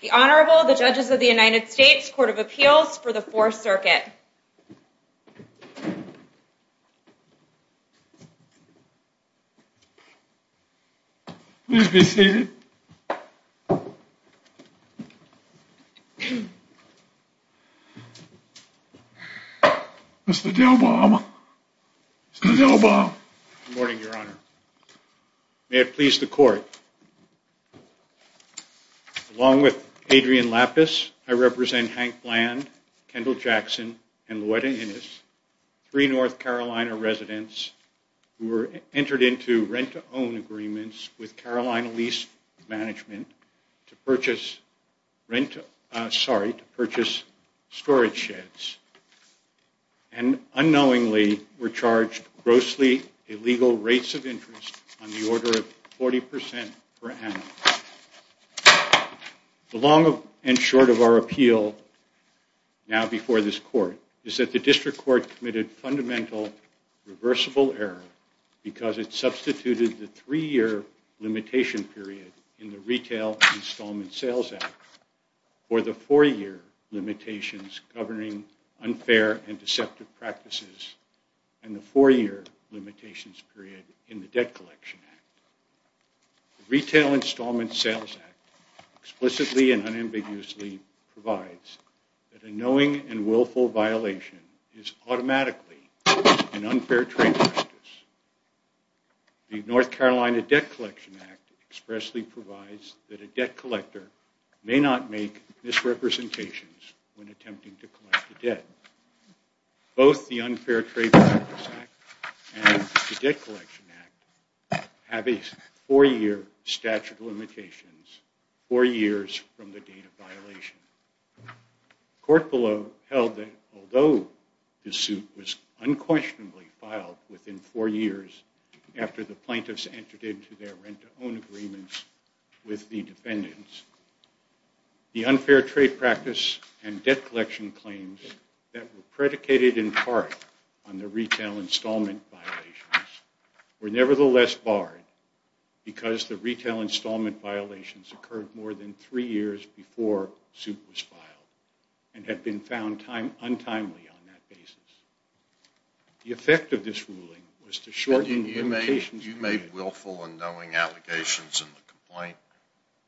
The Honorable, the Judges of the United States Court of Appeals for the Fourth Circuit. Please be seated. Mr. Dillbaum. Mr. Dillbaum. Good morning, Your Honor. May it please the Court. Along with Adrian Lapis, I represent Hank Bland, Kendall Jackson, and Luetta Innes, three North Carolina residents who were entered into rent-to-own agreements with Carolina Lease Management to purchase storage sheds and unknowingly were charged grossly illegal rates of interest on the order of 40% per annum. The long and short of our appeal now before this Court is that the District Court committed fundamental reversible error because it substituted the three-year limitation period in the Retail Installment Sales Act for the four-year limitations governing unfair and deceptive practices and the four-year limitations period in the Debt Collection Act. The Retail Installment Sales Act explicitly and unambiguously provides that a knowing and willful violation is automatically an unfair trade practice. The North Carolina Debt Collection Act expressly provides that a debt collector may not make misrepresentations when attempting to collect a debt. Both the Unfair Trade Practice Act and the Debt Collection Act have a four-year statute of limitations, four years from the date of violation. The Court below held that although the suit was unquestionably filed within four years after the plaintiffs entered into their rent-to-own agreements with the defendants, the unfair trade practice and debt collection claims that were predicated in part on the retail installment violations were nevertheless barred because the retail installment violations occurred more than three years before the suit was filed and had been found untimely on that basis. The effect of this ruling was to shorten the limitations period. You made willful and knowing allegations in the complaint?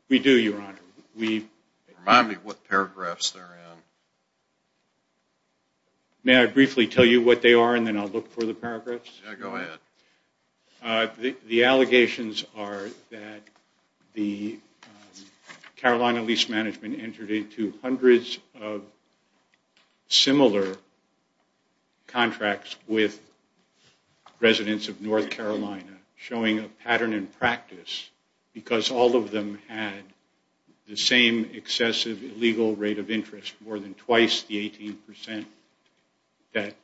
We do, Your Honor. Remind me what paragraphs they're in. May I briefly tell you what they are and then I'll look for the paragraphs? Yeah, go ahead. The allegations are that the Carolina Lease Management entered into hundreds of similar contracts with residents of North Carolina showing a pattern in practice because all of them had the same excessive illegal rate of interest, more than twice the 18 percent that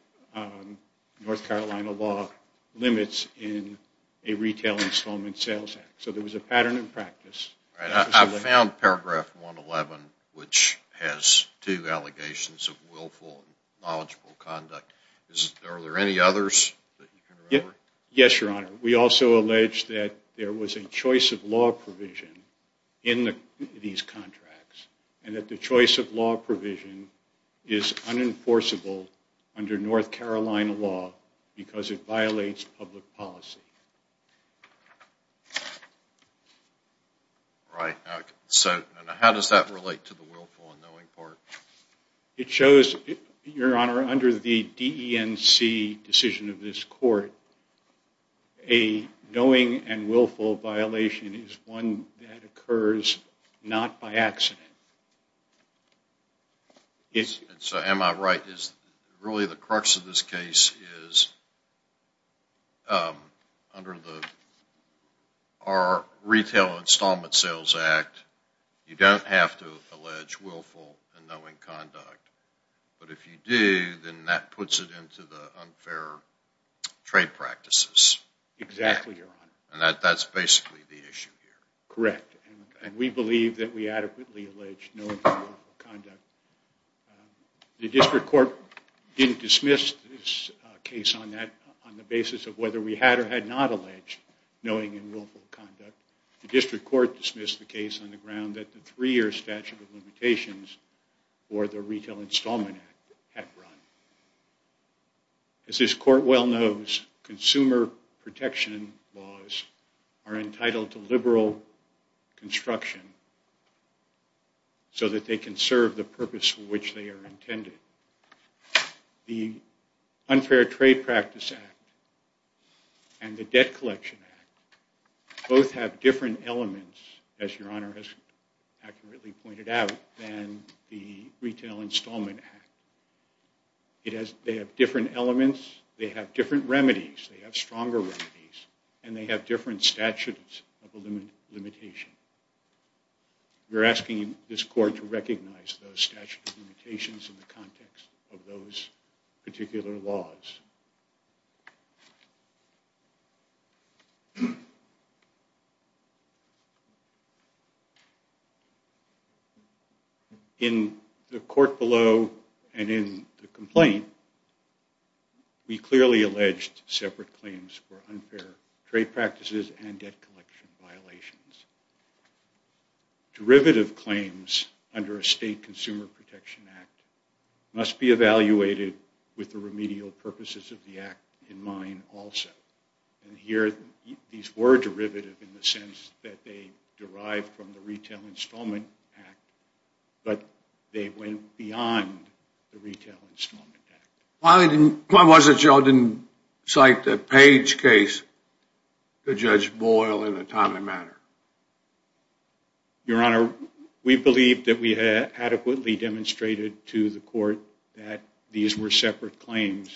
North Carolina law limits in a retail installment sales act. So there was a pattern in practice. I found paragraph 111, which has two allegations of willful and knowledgeable conduct. Are there any others that you can remember? Yes, Your Honor. We also allege that there was a choice of law provision in these contracts and that the choice of law provision is unenforceable under North Carolina law because it violates public policy. Right. So how does that relate to the willful and knowing part? It shows, Your Honor, under the DENC decision of this court, a knowing and willful violation is one that occurs not by accident. Am I right? Really the crux of this case is under our retail installment sales act, you don't have to allege willful and knowing conduct. But if you do, then that puts it into the unfair trade practices. Exactly, Your Honor. And that's basically the issue here. Correct. And we believe that we adequately allege knowing and willful conduct. The district court didn't dismiss this case on the basis of whether we had or had not alleged knowing and willful conduct. The district court dismissed the case on the ground that the three-year statute of limitations for the retail installment act had run. As this court well knows, consumer protection laws are entitled to liberal construction so that they can serve the purpose for which they are intended. The Unfair Trade Practice Act and the Debt Collection Act both have different elements, as Your Honor has accurately pointed out, than the Retail Installment Act. They have different elements, they have different remedies, they have stronger remedies, and they have different statutes of limitation. We're asking this court to recognize those statute of limitations in the context of those particular laws. In the court below and in the complaint, we clearly alleged separate claims for unfair trade practices and debt collection violations. Derivative claims under a state consumer protection act must be evaluated on the basis of the act in mind also. And here these were derivative in the sense that they derived from the Retail Installment Act, but they went beyond the Retail Installment Act. Why was it y'all didn't cite the Page case to Judge Boyle in a timely manner? Your Honor, we believe that we had adequately demonstrated to the court that these were separate claims,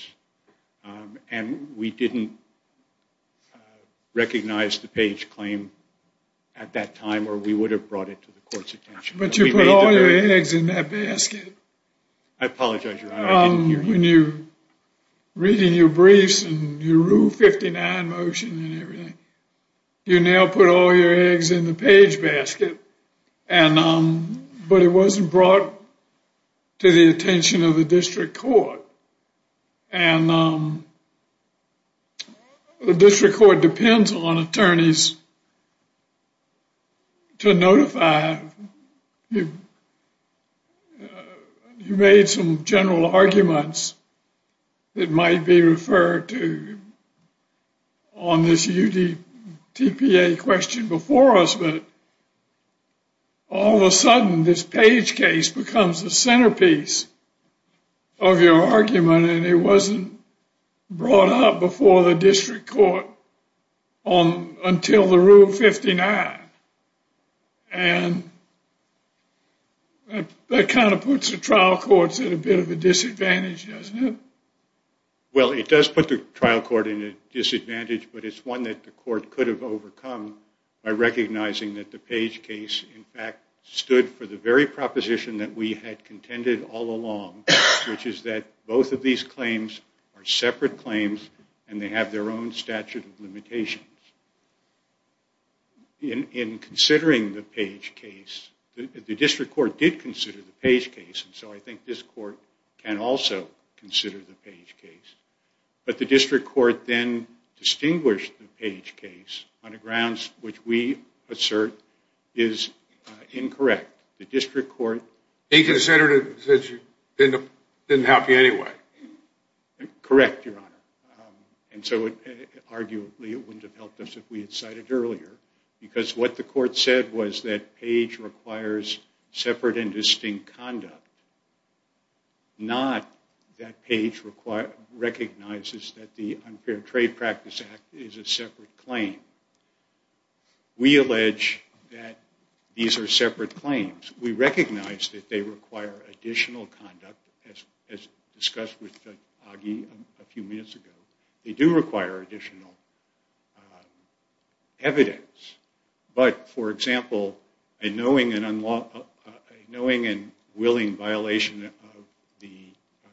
and we didn't recognize the Page claim at that time or we would have brought it to the court's attention. But you put all your eggs in that basket. I apologize, Your Honor, I didn't hear you. Reading your briefs and your Rule 59 motion and everything, you now put all your eggs in the Page basket, but it wasn't brought to the attention of the district court. And the district court depends on attorneys to notify. You made some general arguments that might be referred to on this UDTPA question before us, but all of a sudden this Page case becomes the centerpiece of your argument and it wasn't brought up before the district court until the Rule 59. And that kind of puts the trial courts at a bit of a disadvantage, doesn't it? Well, it does put the trial court at a disadvantage, but it's one that the court could have overcome by recognizing that the Page case, in fact, stood for the very proposition that we had contended all along, which is that both of these claims are separate claims and they have their own statute of limitations. In considering the Page case, the district court did consider the Page case, and so I think this court can also consider the Page case. But the district court then distinguished the Page case on the grounds which we assert is incorrect. The district court... Inconsensitive since it didn't help you anyway. Correct, Your Honor. And so arguably it wouldn't have helped us if we had cited it earlier because what the court said was that Page requires separate and distinct conduct, not that Page recognizes that the Unfair Trade Practice Act is a separate claim. We allege that these are separate claims. We recognize that they require additional conduct, as discussed with Augie a few minutes ago. They do require additional evidence, but, for example, a knowing and willing violation of the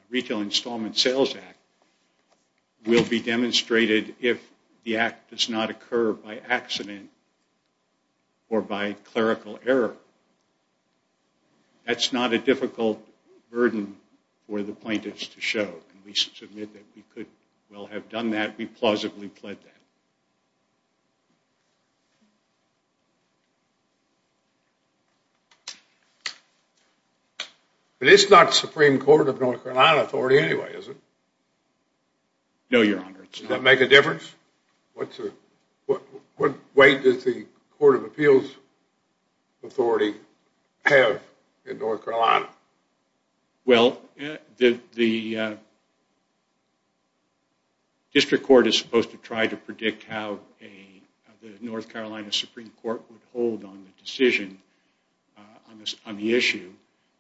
Retail Installment Sales Act will be demonstrated if the act does not occur by accident or by clerical error. That's not a difficult burden for the plaintiffs to show. We could well have done that. We plausibly pled that. But it's not the Supreme Court of North Carolina authority anyway, is it? No, Your Honor. Does that make a difference? What weight does the Court of Appeals authority have in North Carolina? Well, the district court is supposed to try to predict how the North Carolina Supreme Court would hold on the decision, on the issue,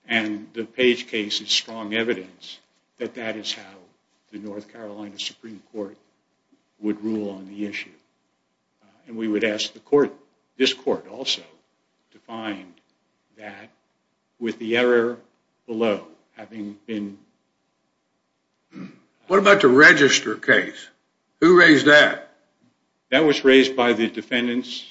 and the Page case is strong evidence that that is how the North Carolina Supreme Court would rule on the issue. And we would ask the court, this court also, to find that with the error below having been... What about the register case? Who raised that? That was raised by the defendants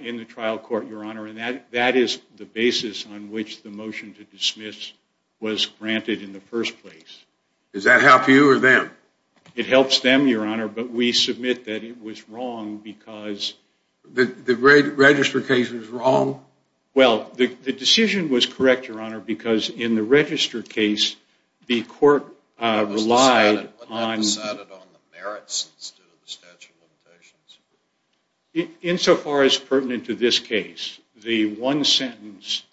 in the trial court, Your Honor, and that is the basis on which the motion to dismiss was granted in the first place. Does that help you or them? It helps them, Your Honor, but we submit that it was wrong because... The register case was wrong? Well, the decision was correct, Your Honor, because in the register case, the court relied on... Wasn't that decided on the merits instead of the statute of limitations? Insofar as pertinent to this case, the one sentence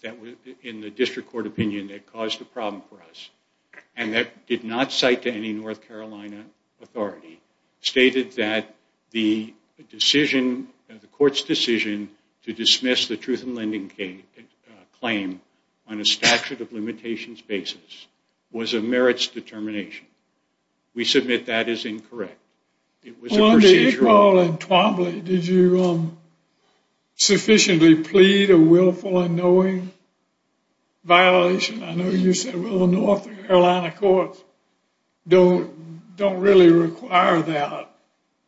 in the district court opinion that caused the problem for us, and that did not cite to any North Carolina authority, stated that the court's decision to dismiss the truth in lending claim on a statute of limitations basis was a merits determination. We submit that is incorrect. It was a procedure... Mr. Twombly, did you sufficiently plead a willful and knowing violation? I know you said, well, the North Carolina courts don't really require that,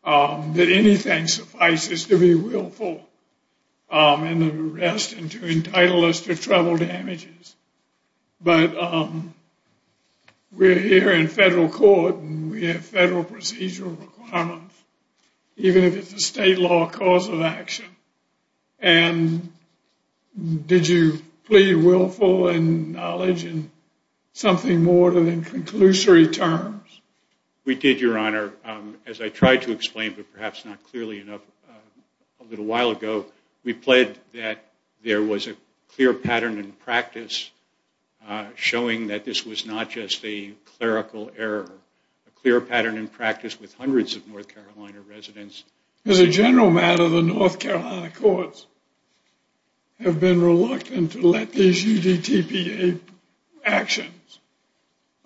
that anything suffices to be willful in the arrest and to entitle us to trouble damages, but we're here in federal court and we have federal procedural requirements. Even if it's a state law cause of action. And did you plead willful in knowledge and something more than in conclusory terms? We did, Your Honor. As I tried to explain, but perhaps not clearly enough, a little while ago, we pled that there was a clear pattern in practice showing that this was not just a clerical error. A clear pattern in practice with hundreds of North Carolina residents. As a general matter, the North Carolina courts have been reluctant to let these UDTPA actions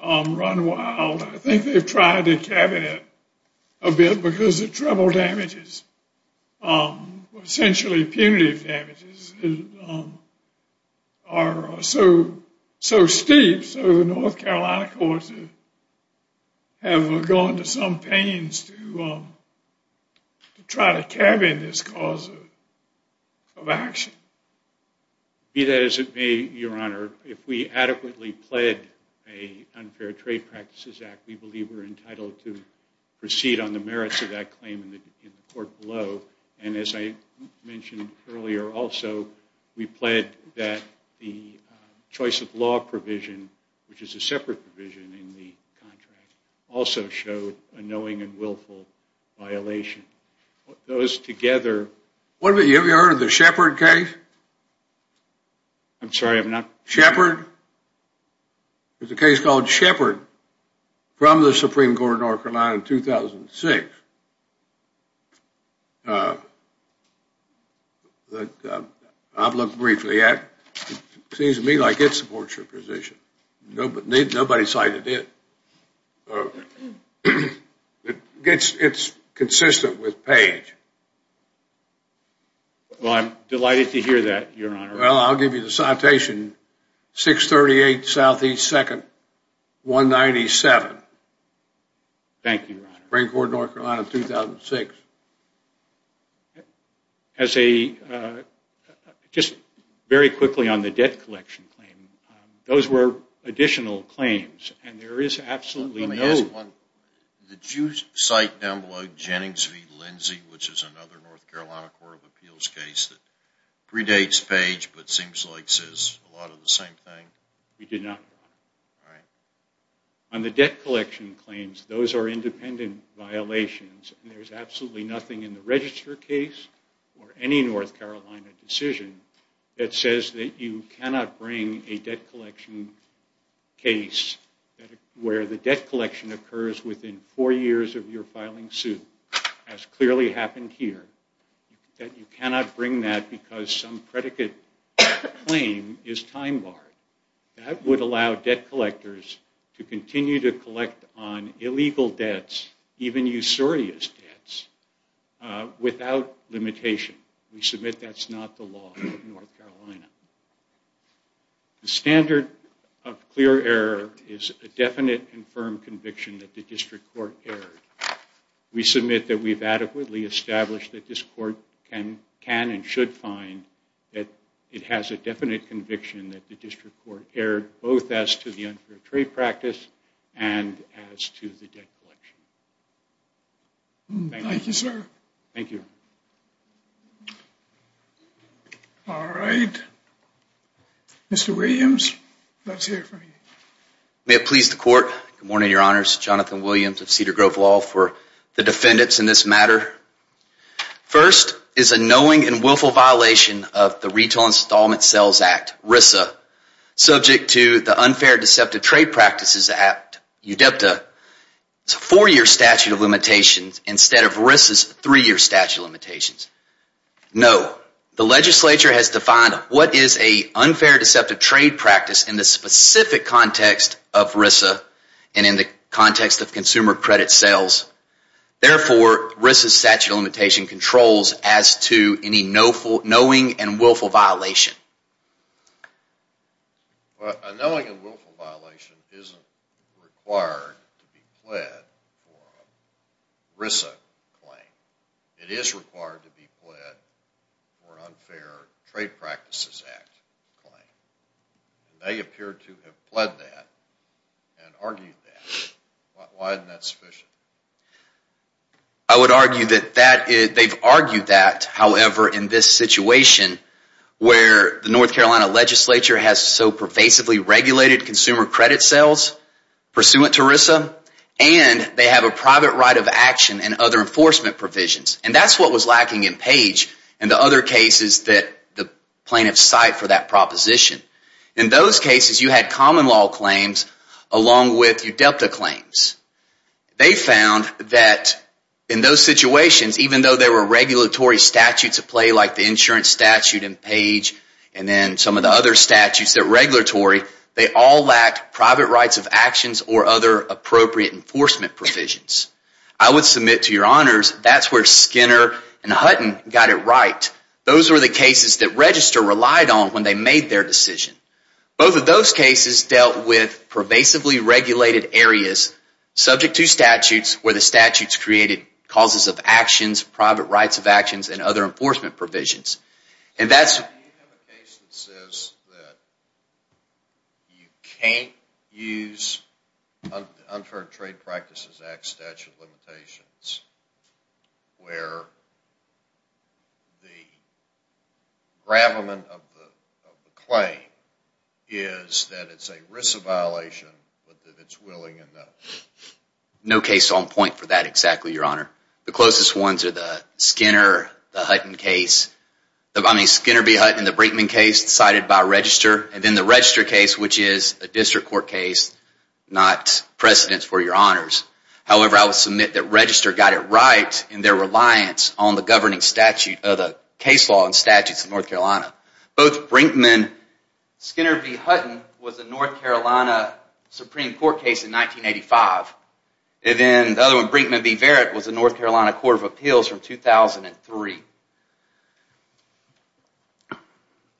run wild. I think they've tried to cabinet it a bit because the trouble damages, essentially punitive damages, are so steep, so the North Carolina courts have gone to some pains to try to cabinet this cause of action. Be that as it may, Your Honor, if we adequately pled an unfair trade practices act, we believe we're entitled to proceed on the merits of that claim in the court below. And as I mentioned earlier also, we pled that the choice of law provision, which is a separate provision in the contract, also showed a knowing and willful violation. Those together... Have you ever heard of the Shepard case? I'm sorry, I'm not... Shepard? There's a case called Shepard from the Supreme Court of North Carolina in 2006. I've looked briefly at it. It seems to me like it supports your position. Nobody cited it. It's consistent with Page. Well, I'm delighted to hear that, Your Honor. Well, I'll give you the citation. 638 Southeast 2nd, 197. Thank you, Your Honor. Supreme Court of North Carolina, 2006. As a... Just very quickly on the debt collection claim, those were additional claims, and there is absolutely no... Let me ask one. Did you cite down below Jennings v. Lindsay, which is another North Carolina Court of Appeals case that predates Page, but seems like says a lot of the same thing? We did not. All right. On the debt collection claims, those are independent violations, and there's absolutely nothing in the register case or any North Carolina decision that says that you cannot bring a debt collection case where the debt collection occurs within four years of your filing suit, as clearly happened here, that you cannot bring that because some predicate claim is time-barred. That would allow debt collectors to continue to collect on illegal debts, even usurious debts, without limitation. We submit that's not the law in North Carolina. The standard of clear error is a definite and firm conviction that the district court erred. We submit that we've adequately established that this court can and should find that it has a definite conviction that the district court erred, both as to the unfair trade practice and as to the debt collection. Thank you. Thank you, sir. Thank you. All right. Mr. Williams, let's hear from you. May it please the Court. Good morning, Your Honors. Jonathan Williams of Cedar Grove Law for the defendants in this matter. First is a knowing and willful violation of the Retail Installment Sales Act, RISA, subject to the unfair deceptive trade practices act, UDEPTA. It's a four-year statute of limitations instead of RISA's three-year statute of limitations. No. The legislature has defined what is an unfair deceptive trade practice in the specific context of RISA and in the context of consumer credit sales. Therefore, RISA's statute of limitations controls as to any knowing and willful violation. A knowing and willful violation isn't required to be pled for a RISA claim. It is required to be pled for an unfair trade practices act claim. They appear to have pled that and argued that. Why isn't that sufficient? I would argue that they've argued that, however, in this situation where the North Carolina legislature has so pervasively regulated consumer credit sales pursuant to RISA, and they have a private right of action and other enforcement provisions. And that's what was lacking in Page and the other cases that the plaintiffs cite for that proposition. In those cases, you had common law claims along with UDEPTA claims. They found that in those situations, even though there were regulatory statutes at play like the insurance statute in Page and then some of the other statutes that are regulatory, they all lacked private rights of actions or other appropriate enforcement provisions. I would submit to your honors that's where Skinner and Hutton got it right. Those were the cases that Register relied on when they made their decision. Both of those cases dealt with pervasively regulated areas subject to statutes where the statutes created causes of actions, private rights of actions, and other enforcement provisions. Do you have a case that says that you can't use Unfair Trade Practices Act statute limitations where the gravamen of the claim is that it's a RISA violation but that it's willing enough? No case on point for that exactly, your honor. The closest ones are the Skinner v. Hutton case, I mean Skinner v. Hutton and the Brinkman case cited by Register, and then the Register case, which is a district court case, not precedent for your honors. However, I will submit that Register got it right in their reliance on the governing statute of the case law and statutes in North Carolina. Both Brinkman v. Hutton was a North Carolina Supreme Court case in 1985. And then the other one, Brinkman v. Verritt, was a North Carolina Court of Appeals from 2003.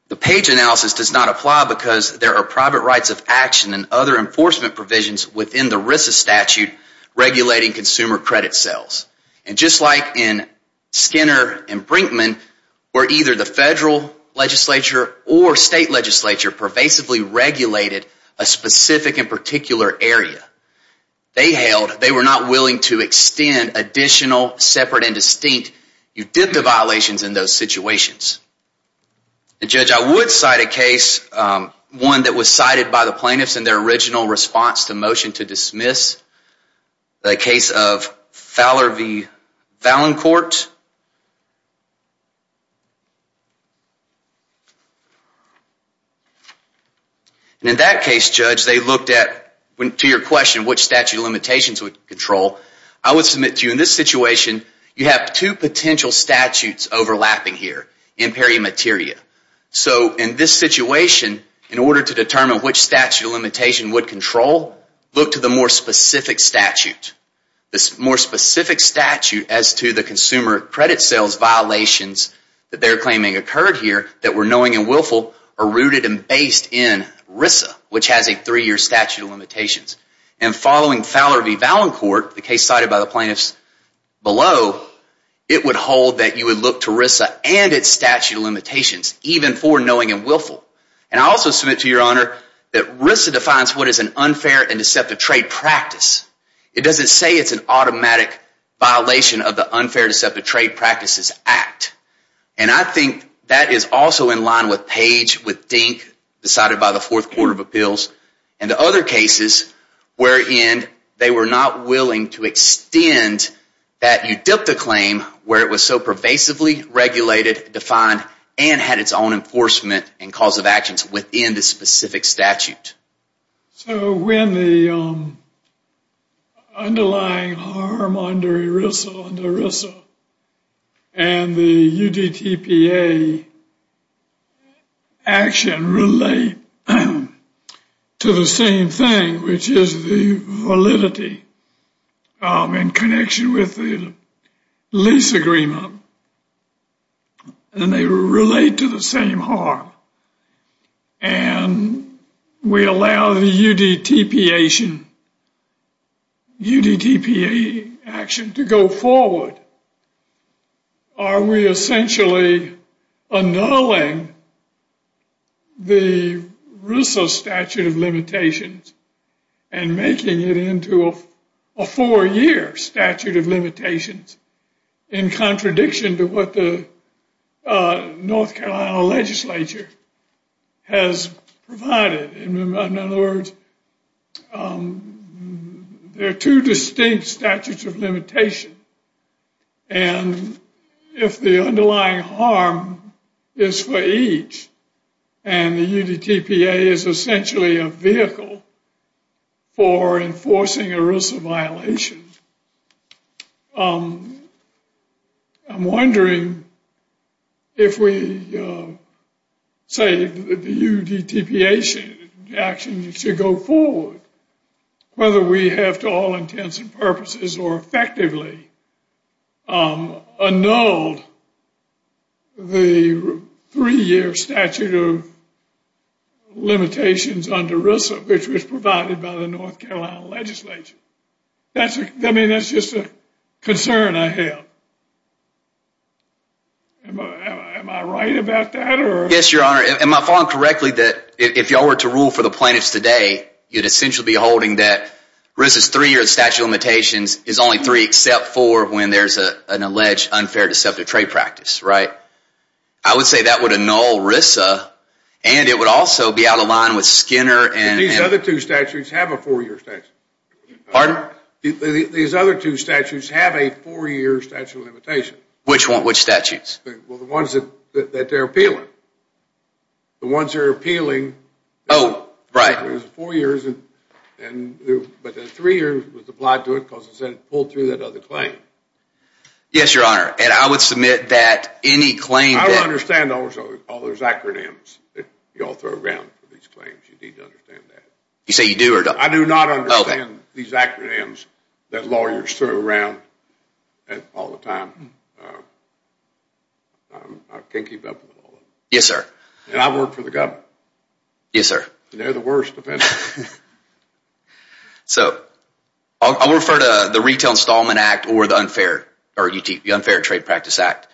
The page analysis does not apply because there are private rights of action and other enforcement provisions within the RISA statute regulating consumer credit sales. And just like in Skinner and Brinkman, where either the federal legislature or state legislature pervasively regulated a specific and particular area. They held they were not willing to extend additional separate and distinct you did the violations in those situations. Judge, I would cite a case, one that was cited by the plaintiffs in their original response to motion to dismiss, the case of Fowler v. Valancourt. And in that case, Judge, they looked at, to your question, which statute of limitations would control. I would submit to you, in this situation, you have two potential statutes overlapping here, imperia materia. So in this situation, in order to determine which statute of limitation would control, look to the more specific statute. The more specific statute as to the consumer credit sales. The consumer credit sales violations that they're claiming occurred here that were knowing and willful are rooted and based in RISA, which has a three-year statute of limitations. And following Fowler v. Valancourt, the case cited by the plaintiffs below, it would hold that you would look to RISA and its statute of limitations, even for knowing and willful. And I also submit to your honor that RISA defines what is an unfair and deceptive trade practice. It doesn't say it's an automatic violation of the unfair and deceptive trade practices act. And I think that is also in line with Page, with Dink, decided by the Fourth Court of Appeals, and the other cases wherein they were not willing to extend that UDEPTA claim where it was so pervasively regulated, defined, and had its own enforcement and cause of actions within the specific statute. So when the underlying harm under RISA and the UDEPTA action relate to the same thing, which is the validity in connection with the lease agreement, and they relate to the same harm, and we allow the UDEPTA action to go forward, are we essentially annulling the RISA statute of limitations and making it into a four-year statute of limitations in contradiction to what the North Carolina legislature has provided? In other words, there are two distinct statutes of limitation. And if the underlying harm is for each, and the UDEPTA is essentially a vehicle for enforcing a RISA violation, I'm wondering if we say the UDEPTA action should go forward, whether we have to all intents and purposes or effectively annul the three-year statute of limitations under RISA, which was provided by the North Carolina legislature. I mean, that's just a concern I have. Am I right about that? Yes, Your Honor. Am I following correctly that if y'all were to rule for the plaintiffs today, you'd essentially be holding that RISA's three-year statute of limitations is only three except for when there's an alleged unfair deceptive trade practice, right? I would say that would annul RISA, and it would also be out of line with Skinner and... These other two statutes have a four-year statute of limitations. Pardon? These other two statutes have a four-year statute of limitations. Which statutes? Well, the ones that they're appealing. The ones that are appealing... Oh, right. But the three years was applied to it because it said it pulled through that other claim. Yes, Your Honor. And I would submit that any claim that... I don't understand all those acronyms that y'all throw around for these claims. You need to understand that. You say you do or don't? I do not understand these acronyms that lawyers throw around all the time. I can't keep up with all of them. Yes, sir. And I work for the government. Yes, sir. And they're the worst offenders. So I'll refer to the Retail Installment Act or the Unfair Trade Practice Act.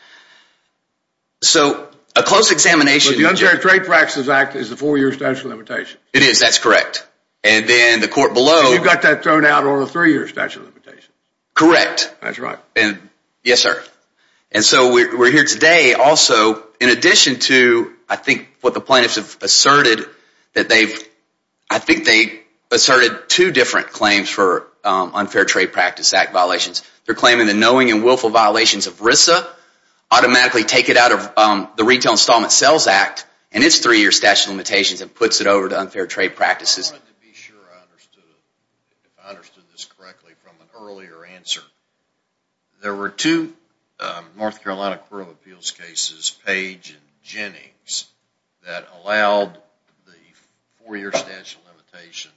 So a close examination... But the Unfair Trade Practice Act is a four-year statute of limitations. It is. That's correct. And then the court below... You've got that thrown out on a three-year statute of limitations. Correct. That's right. Yes, sir. And so we're here today also in addition to I think what the plaintiffs have asserted that they've... I think they asserted two different claims for Unfair Trade Practice Act violations. They're claiming the knowing and willful violations of RISA automatically take it out of the Retail Installment Sales Act and its three-year statute of limitations and puts it over to Unfair Trade Practices. I wanted to be sure I understood this correctly from an earlier answer. There were two North Carolina Court of Appeals cases, Page and Jennings, that allowed the four-year statute of limitations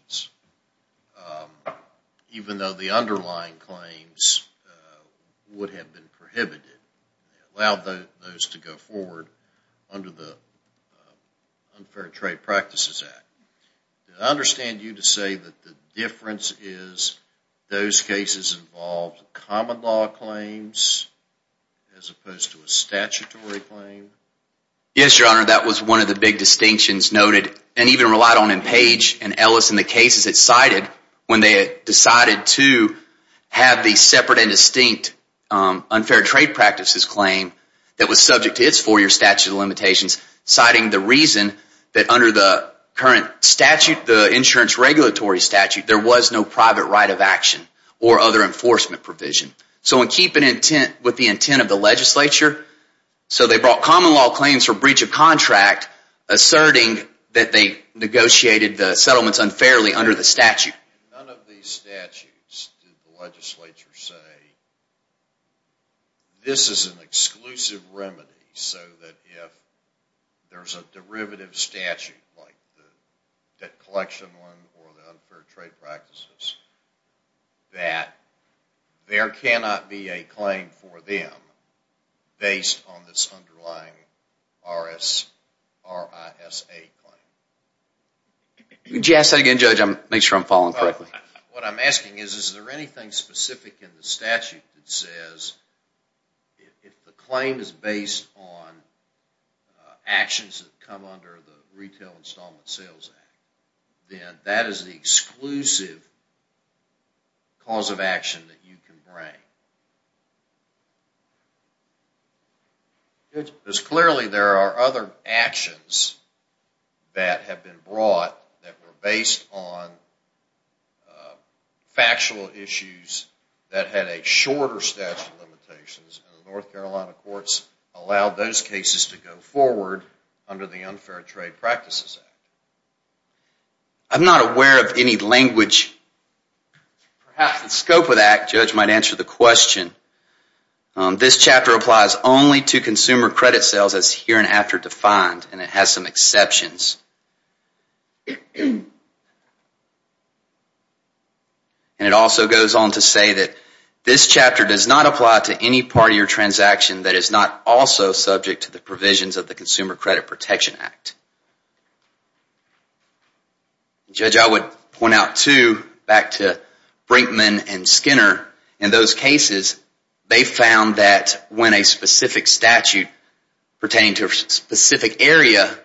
even though the underlying claims would have been prohibited. It allowed those to go forward under the Unfair Trade Practices Act. I understand you to say that the difference is those cases involved common law claims as opposed to a statutory claim. Yes, Your Honor, that was one of the big distinctions noted and even relied on in Page and Ellis and the cases it cited when they decided to have the separate and distinct Unfair Trade Practices claim citing the reason that under the current statute, the insurance regulatory statute, there was no private right of action or other enforcement provision. So in keeping with the intent of the legislature, they brought common law claims for breach of contract asserting that they negotiated the settlements unfairly under the statute. In none of these statutes did the legislature say, this is an exclusive remedy so that if there's a derivative statute like the debt collection one or the unfair trade practices, that there cannot be a claim for them based on this underlying RISA claim. Would you ask that again, Judge? I want to make sure I'm following correctly. What I'm asking is, is there anything specific in the statute that says if the claim is based on actions that come under the Retail Installment Sales Act, then that is the exclusive cause of action that you can bring. Judge, because clearly there are other actions that have been brought that were based on factual issues that had a shorter statute of limitations and the North Carolina courts allowed those cases to go forward under the Unfair Trade Practices Act. I'm not aware of any language, perhaps the scope of that, Judge might answer the question. This chapter applies only to consumer credit sales as here and after defined and it has some exceptions. And it also goes on to say that this chapter does not apply to any part of your transaction that is not also subject to the provisions of the Consumer Credit Protection Act. Judge, I would point out too, back to Brinkman and Skinner, in those cases they found that when a specific statute pertaining to a specific area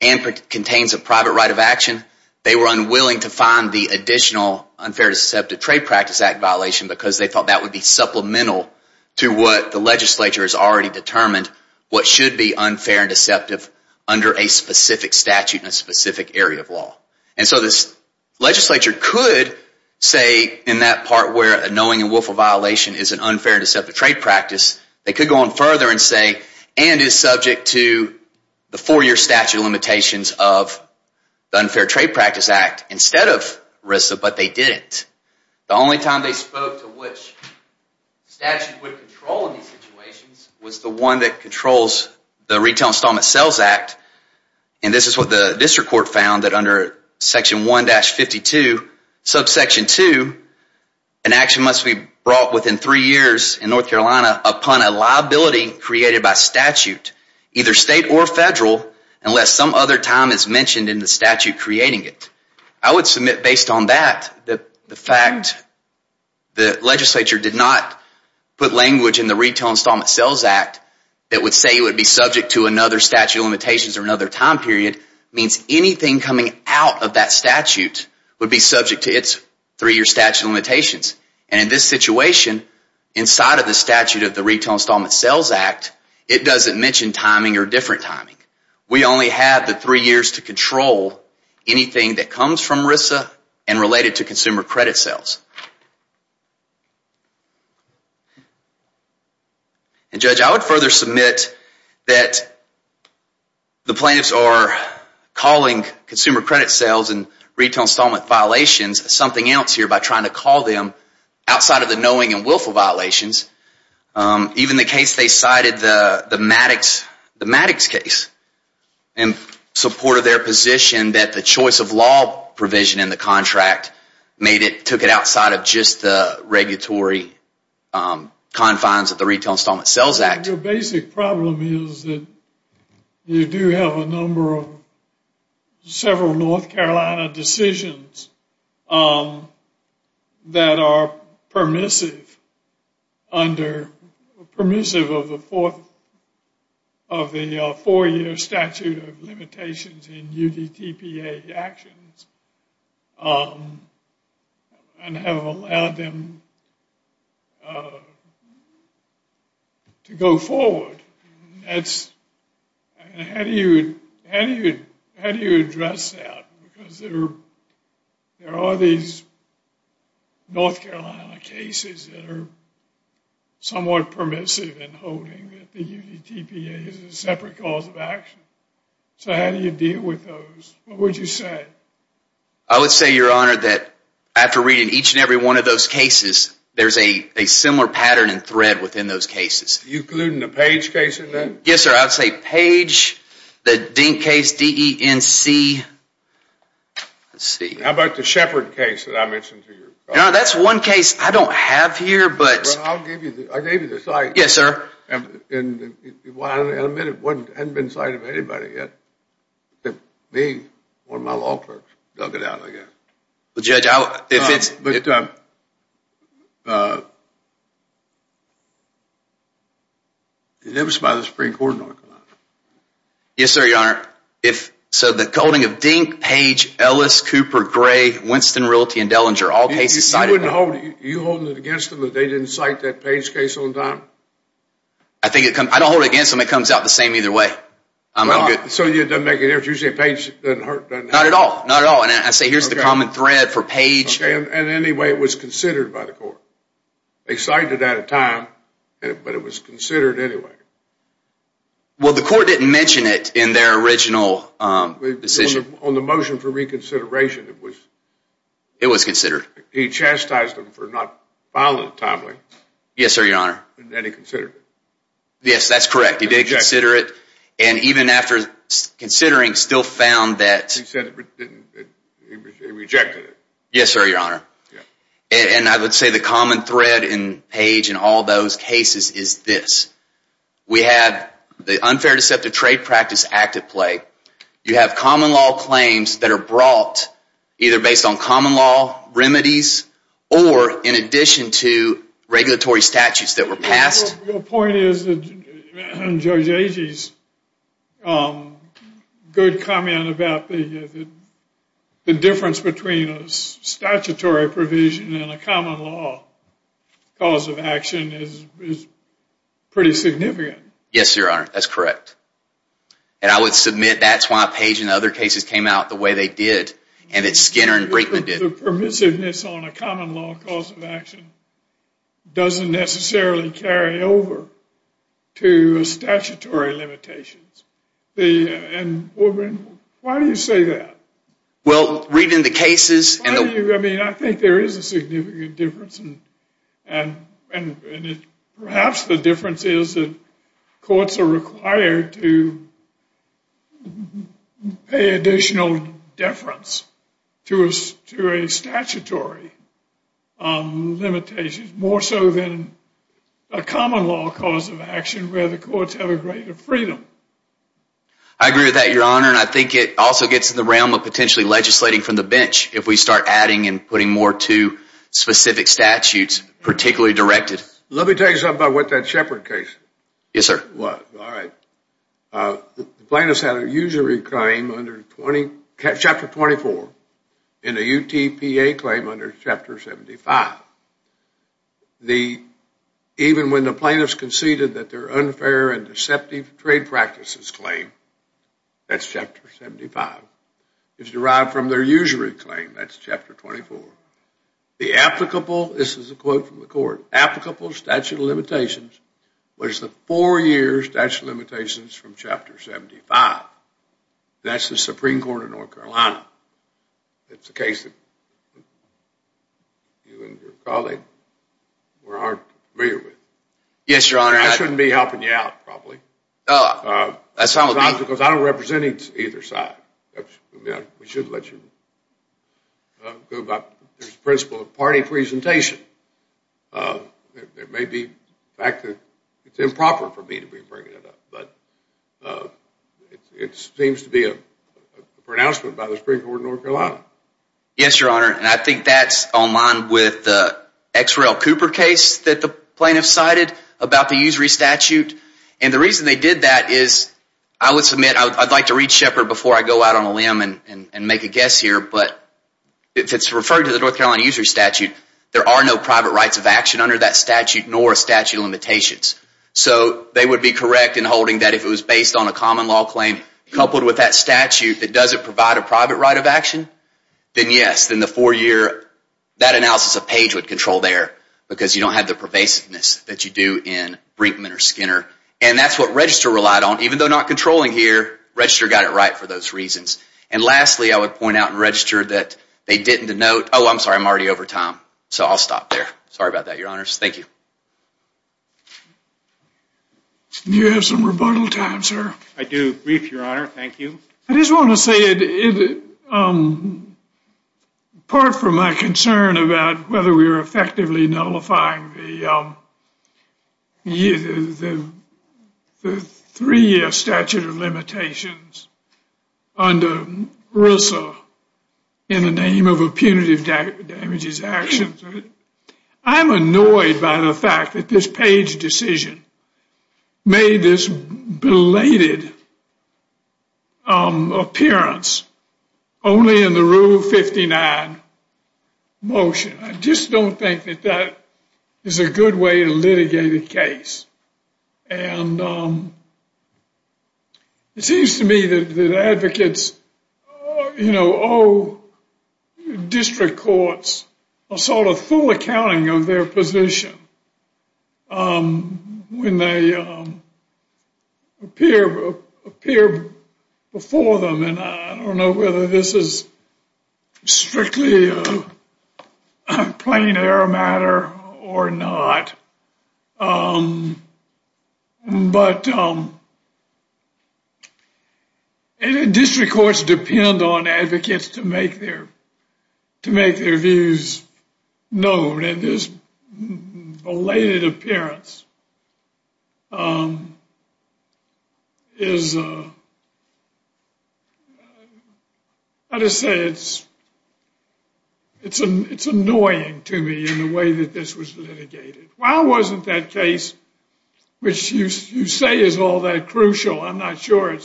and contains a private right of action, they were unwilling to find the additional Unfair Deceptive Trade Practice Act violation because they thought that would be supplemental to what the legislature has already determined what should be unfair and deceptive under a specific statute in a specific area of law. And so this legislature could say in that part where a knowing and willful violation is an unfair and deceptive trade practice, they could go on further and say and is subject to the four-year statute of limitations of the Unfair Trade Practice Act instead of RISA, but they didn't. The only time they spoke to which statute would control these situations was the one that controls the Retail Installment Sales Act. And this is what the district court found that under Section 1-52, subsection 2, an action must be brought within three years in North Carolina upon a liability created by statute, either state or federal, unless some other time is mentioned in the statute creating it. I would submit based on that that the fact the legislature did not put language in the Retail Installment Sales Act that would say it would be subject to another statute of limitations or another time period means anything coming out of that statute would be subject to its three-year statute of limitations. And in this situation, inside of the statute of the Retail Installment Sales Act, it doesn't mention timing or different timing. We only have the three years to control anything that comes from RISA and related to consumer credit sales. And Judge, I would further submit that the plaintiffs are calling consumer credit sales and retail installment violations something else here by trying to call them outside of the knowing and willful violations. Even the case they cited, the Maddox case, in support of their position that the choice of law provision in the contract took it outside of just the regulatory confines of the Retail Installment Sales Act. Your basic problem is that you do have a number of several North Carolina decisions that are permissive of the four-year statute of limitations in UDTPA actions and have allowed them to go forward. How do you address that? Because there are these North Carolina cases that are somewhat permissive in holding that the UDTPA is a separate cause of action. So how do you deal with those? What would you say? I would say, Your Honor, that after reading each and every one of those cases, there's a similar pattern and thread within those cases. Are you including the Page case in that? Yes, sir. I would say Page, the Dink case, D-E-N-C. How about the Shepard case that I mentioned to you? That's one case I don't have here, but... I'll give you the site. Yes, sir. I'll admit it hasn't been cited by anybody yet. Well, Judge, if it's... But... It was by the Supreme Court in North Carolina. Yes, sir, Your Honor. So the holding of Dink, Page, Ellis, Cooper, Gray, Winston, Realty, and Dellinger, all cases cited... You wouldn't hold... Are you holding it against them that they didn't cite that Page case on time? I don't hold it against them. It comes out the same either way. So it doesn't make any difference. If you say Page, it doesn't hurt. Not at all. Not at all. And I say here's the common thread for Page... Okay, and anyway, it was considered by the court. They cited it at a time, but it was considered anyway. Well, the court didn't mention it in their original decision. On the motion for reconsideration, it was... It was considered. He chastised them for not filing it timely. Yes, sir, Your Honor. And then he considered it. Yes, that's correct. He did consider it. And even after considering, still found that... He rejected it. Yes, sir, Your Honor. And I would say the common thread in Page and all those cases is this. We have the Unfair Deceptive Trade Practice Act at play. You have common law claims that are brought either based on common law, remedies, or in addition to regulatory statutes that were passed. Your point is that Judge Agee's good comment about the difference between a statutory provision and a common law cause of action is pretty significant. Yes, Your Honor, that's correct. And I would submit that's why Page and other cases came out the way they did and that Skinner and Brinkman didn't. The permissiveness on a common law cause of action doesn't necessarily carry over to statutory limitations. And why do you say that? Well, reading the cases... I mean, I think there is a significant difference, and perhaps the difference is that courts are required to pay additional deference to a statutory limitation, more so than a common law cause of action where the courts have a greater freedom. I agree with that, Your Honor, and I think it also gets in the realm of potentially legislating from the bench if we start adding and putting more to specific statutes, particularly directed. Let me tell you something about that Shepard case. Yes, sir. All right. The plaintiffs had a usury claim under Chapter 24 and a UTPA claim under Chapter 75. Even when the plaintiffs conceded that their unfair and deceptive trade practices claim, that's Chapter 75, it's derived from their usury claim, that's Chapter 24. The applicable, this is a quote from the court, applicable statute of limitations was the four-year statute of limitations from Chapter 75. That's the Supreme Court of North Carolina. It's a case that you and your colleague were not familiar with. Yes, Your Honor. I shouldn't be helping you out, probably. Oh, that's all right. Because I don't represent either side. We should let you go about this principle of party presentation. It may be the fact that it's improper for me to be bringing it up, but it seems to be a pronouncement by the Supreme Court of North Carolina. Yes, Your Honor. And I think that's online with the X. Rel. Cooper case that the plaintiffs cited about the usury statute. And the reason they did that is, I would submit, I'd like to read Shepard before I go out on a limb and make a guess here, but if it's referred to the North Carolina usury statute, there are no private rights of action under that statute nor statute of limitations. So they would be correct in holding that if it was based on a common law claim coupled with that statute that doesn't provide a private right of action, then yes, then the four-year, that analysis of Page would control there because you don't have the pervasiveness that you do in Brinkman or Skinner. And that's what Register relied on. Even though not controlling here, Register got it right for those reasons. And lastly, I would point out in Register that they didn't denote, oh, I'm sorry, I'm already over time. So I'll stop there. Sorry about that, Your Honors. Thank you. Do you have some rebuttal time, sir? I do. Brief, Your Honor. Thank you. I just want to say, apart from my concern about whether we were effectively nullifying the three-year statute of limitations under RISA in the name of a punitive damages action, I'm annoyed by the fact that this Page decision made this belated appearance only in the Rule 59 motion. I just don't think that that is a good way to litigate a case. And it seems to me that advocates owe district courts a sort of full accounting of their position when they appear before them. And I don't know whether this is strictly a plain-air matter or not. But district courts depend on advocates to make their views known. And this belated appearance is, I just say it's annoying to me in the way that this was litigated. Why wasn't that case, which you say is all that crucial, I'm not sure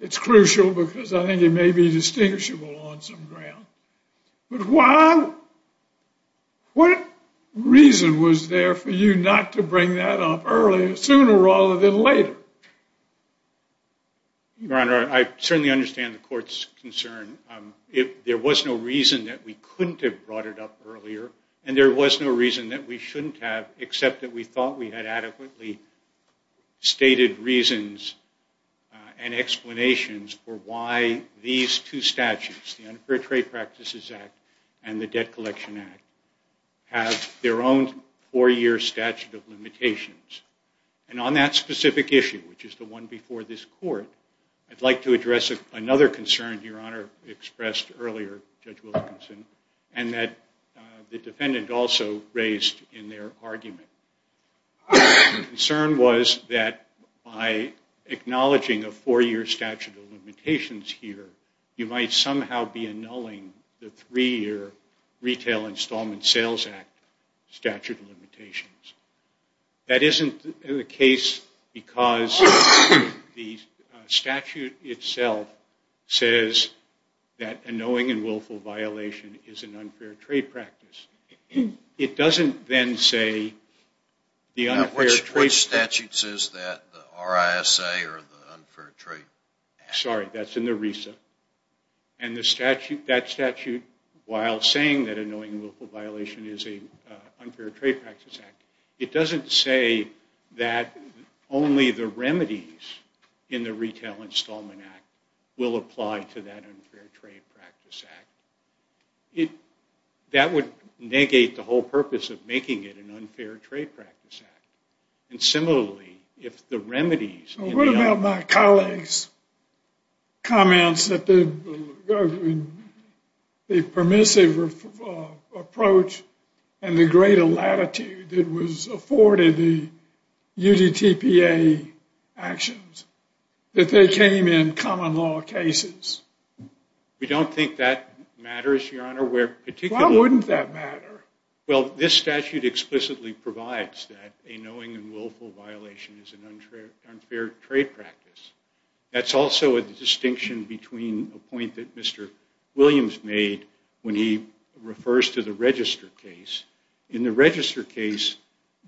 it's crucial because I think it may be distinguishable on some ground. But why? What reason was there for you not to bring that up earlier, sooner rather than later? Your Honor, I certainly understand the court's concern. There was no reason that we couldn't have brought it up earlier. And there was no reason that we shouldn't have, except that we thought we had adequately stated reasons and explanations for why these two statutes, the Unfair Trade Practices Act and the Debt Collection Act, have their own four-year statute of limitations. And on that specific issue, which is the one before this court, I'd like to address another concern Your Honor expressed earlier, Judge Wilkinson, and that the defendant also raised in their argument. The concern was that by acknowledging a four-year statute of limitations here, you might somehow be annulling the three-year Retail Installment Sales Act statute of limitations. That isn't the case because the statute itself says that annoying and willful violation is an unfair trade practice. It doesn't then say the unfair trade practice... Which statute says that, the RISA or the Unfair Trade Act? Sorry, that's in the RESA. And that statute, while saying that annoying and willful violation is an unfair trade practice act, it doesn't say that only the remedies in the Retail Installment Act will apply to that unfair trade practice act. That would negate the whole purpose of making it an unfair trade practice act. And similarly, if the remedies... What about my colleague's comments that the permissive approach and the greater latitude that was afforded the UDTPA actions, that they came in common law cases? We don't think that matters, Your Honor. Why wouldn't that matter? Well, this statute explicitly provides that an annoying and willful violation is an unfair trade practice. That's also a distinction between a point that Mr. Williams made when he refers to the register case. In the register case,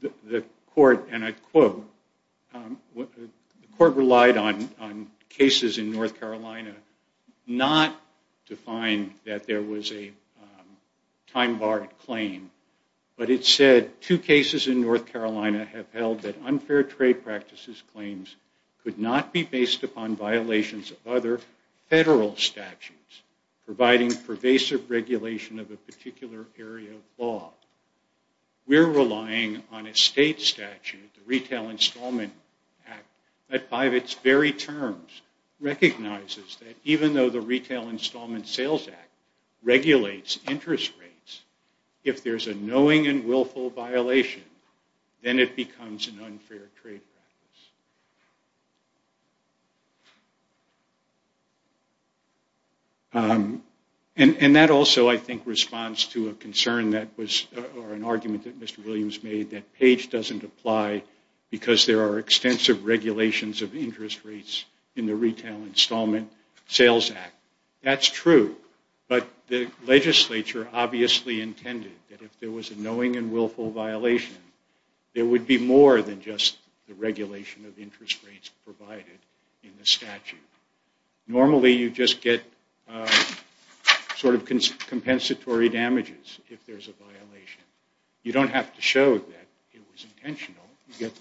the court, and I quote, the court relied on cases in North Carolina not to find that there was a time-barred claim. But it said, Two cases in North Carolina have held that unfair trade practices claims could not be based upon violations of other federal statutes providing pervasive regulation of a particular area of law. We're relying on a state statute, the Retail Installment Act, that by its very terms, recognizes that even though the Retail Installment Sales Act regulates interest rates, if there's a knowing and willful violation, then it becomes an unfair trade practice. And that also, I think, responds to a concern that was, or an argument that Mr. Williams made, that Page doesn't apply because there are extensive regulations of interest rates in the Retail Installment Sales Act. That's true. But the legislature obviously intended that if there was a knowing and willful violation, there would be more than just the regulation of the interest rates. Normally, you just get sort of compensatory damages if there's a violation. You don't have to show that it was intentional. You get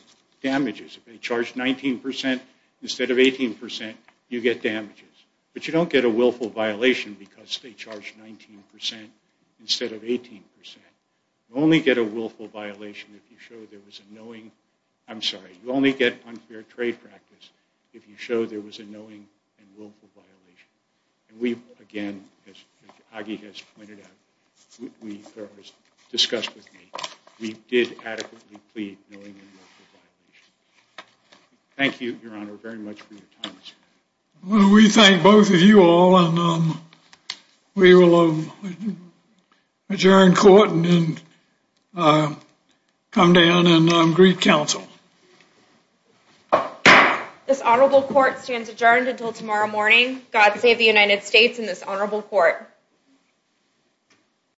damages. If they charge 19% instead of 18%, you get damages. But you don't get a willful violation because they charge 19% instead of 18%. You only get a willful violation if you show there was a knowing. I'm sorry. You only get unfair trade practice if you show there was a knowing and willful violation. And we, again, as Aggie has pointed out, or has discussed with me, we did adequately plead knowing and willful violation. Thank you, Your Honor, very much for your time this evening. We thank both of you all, and we will adjourn court and come down and greet counsel. This honorable court stands adjourned until tomorrow morning. God save the United States and this honorable court.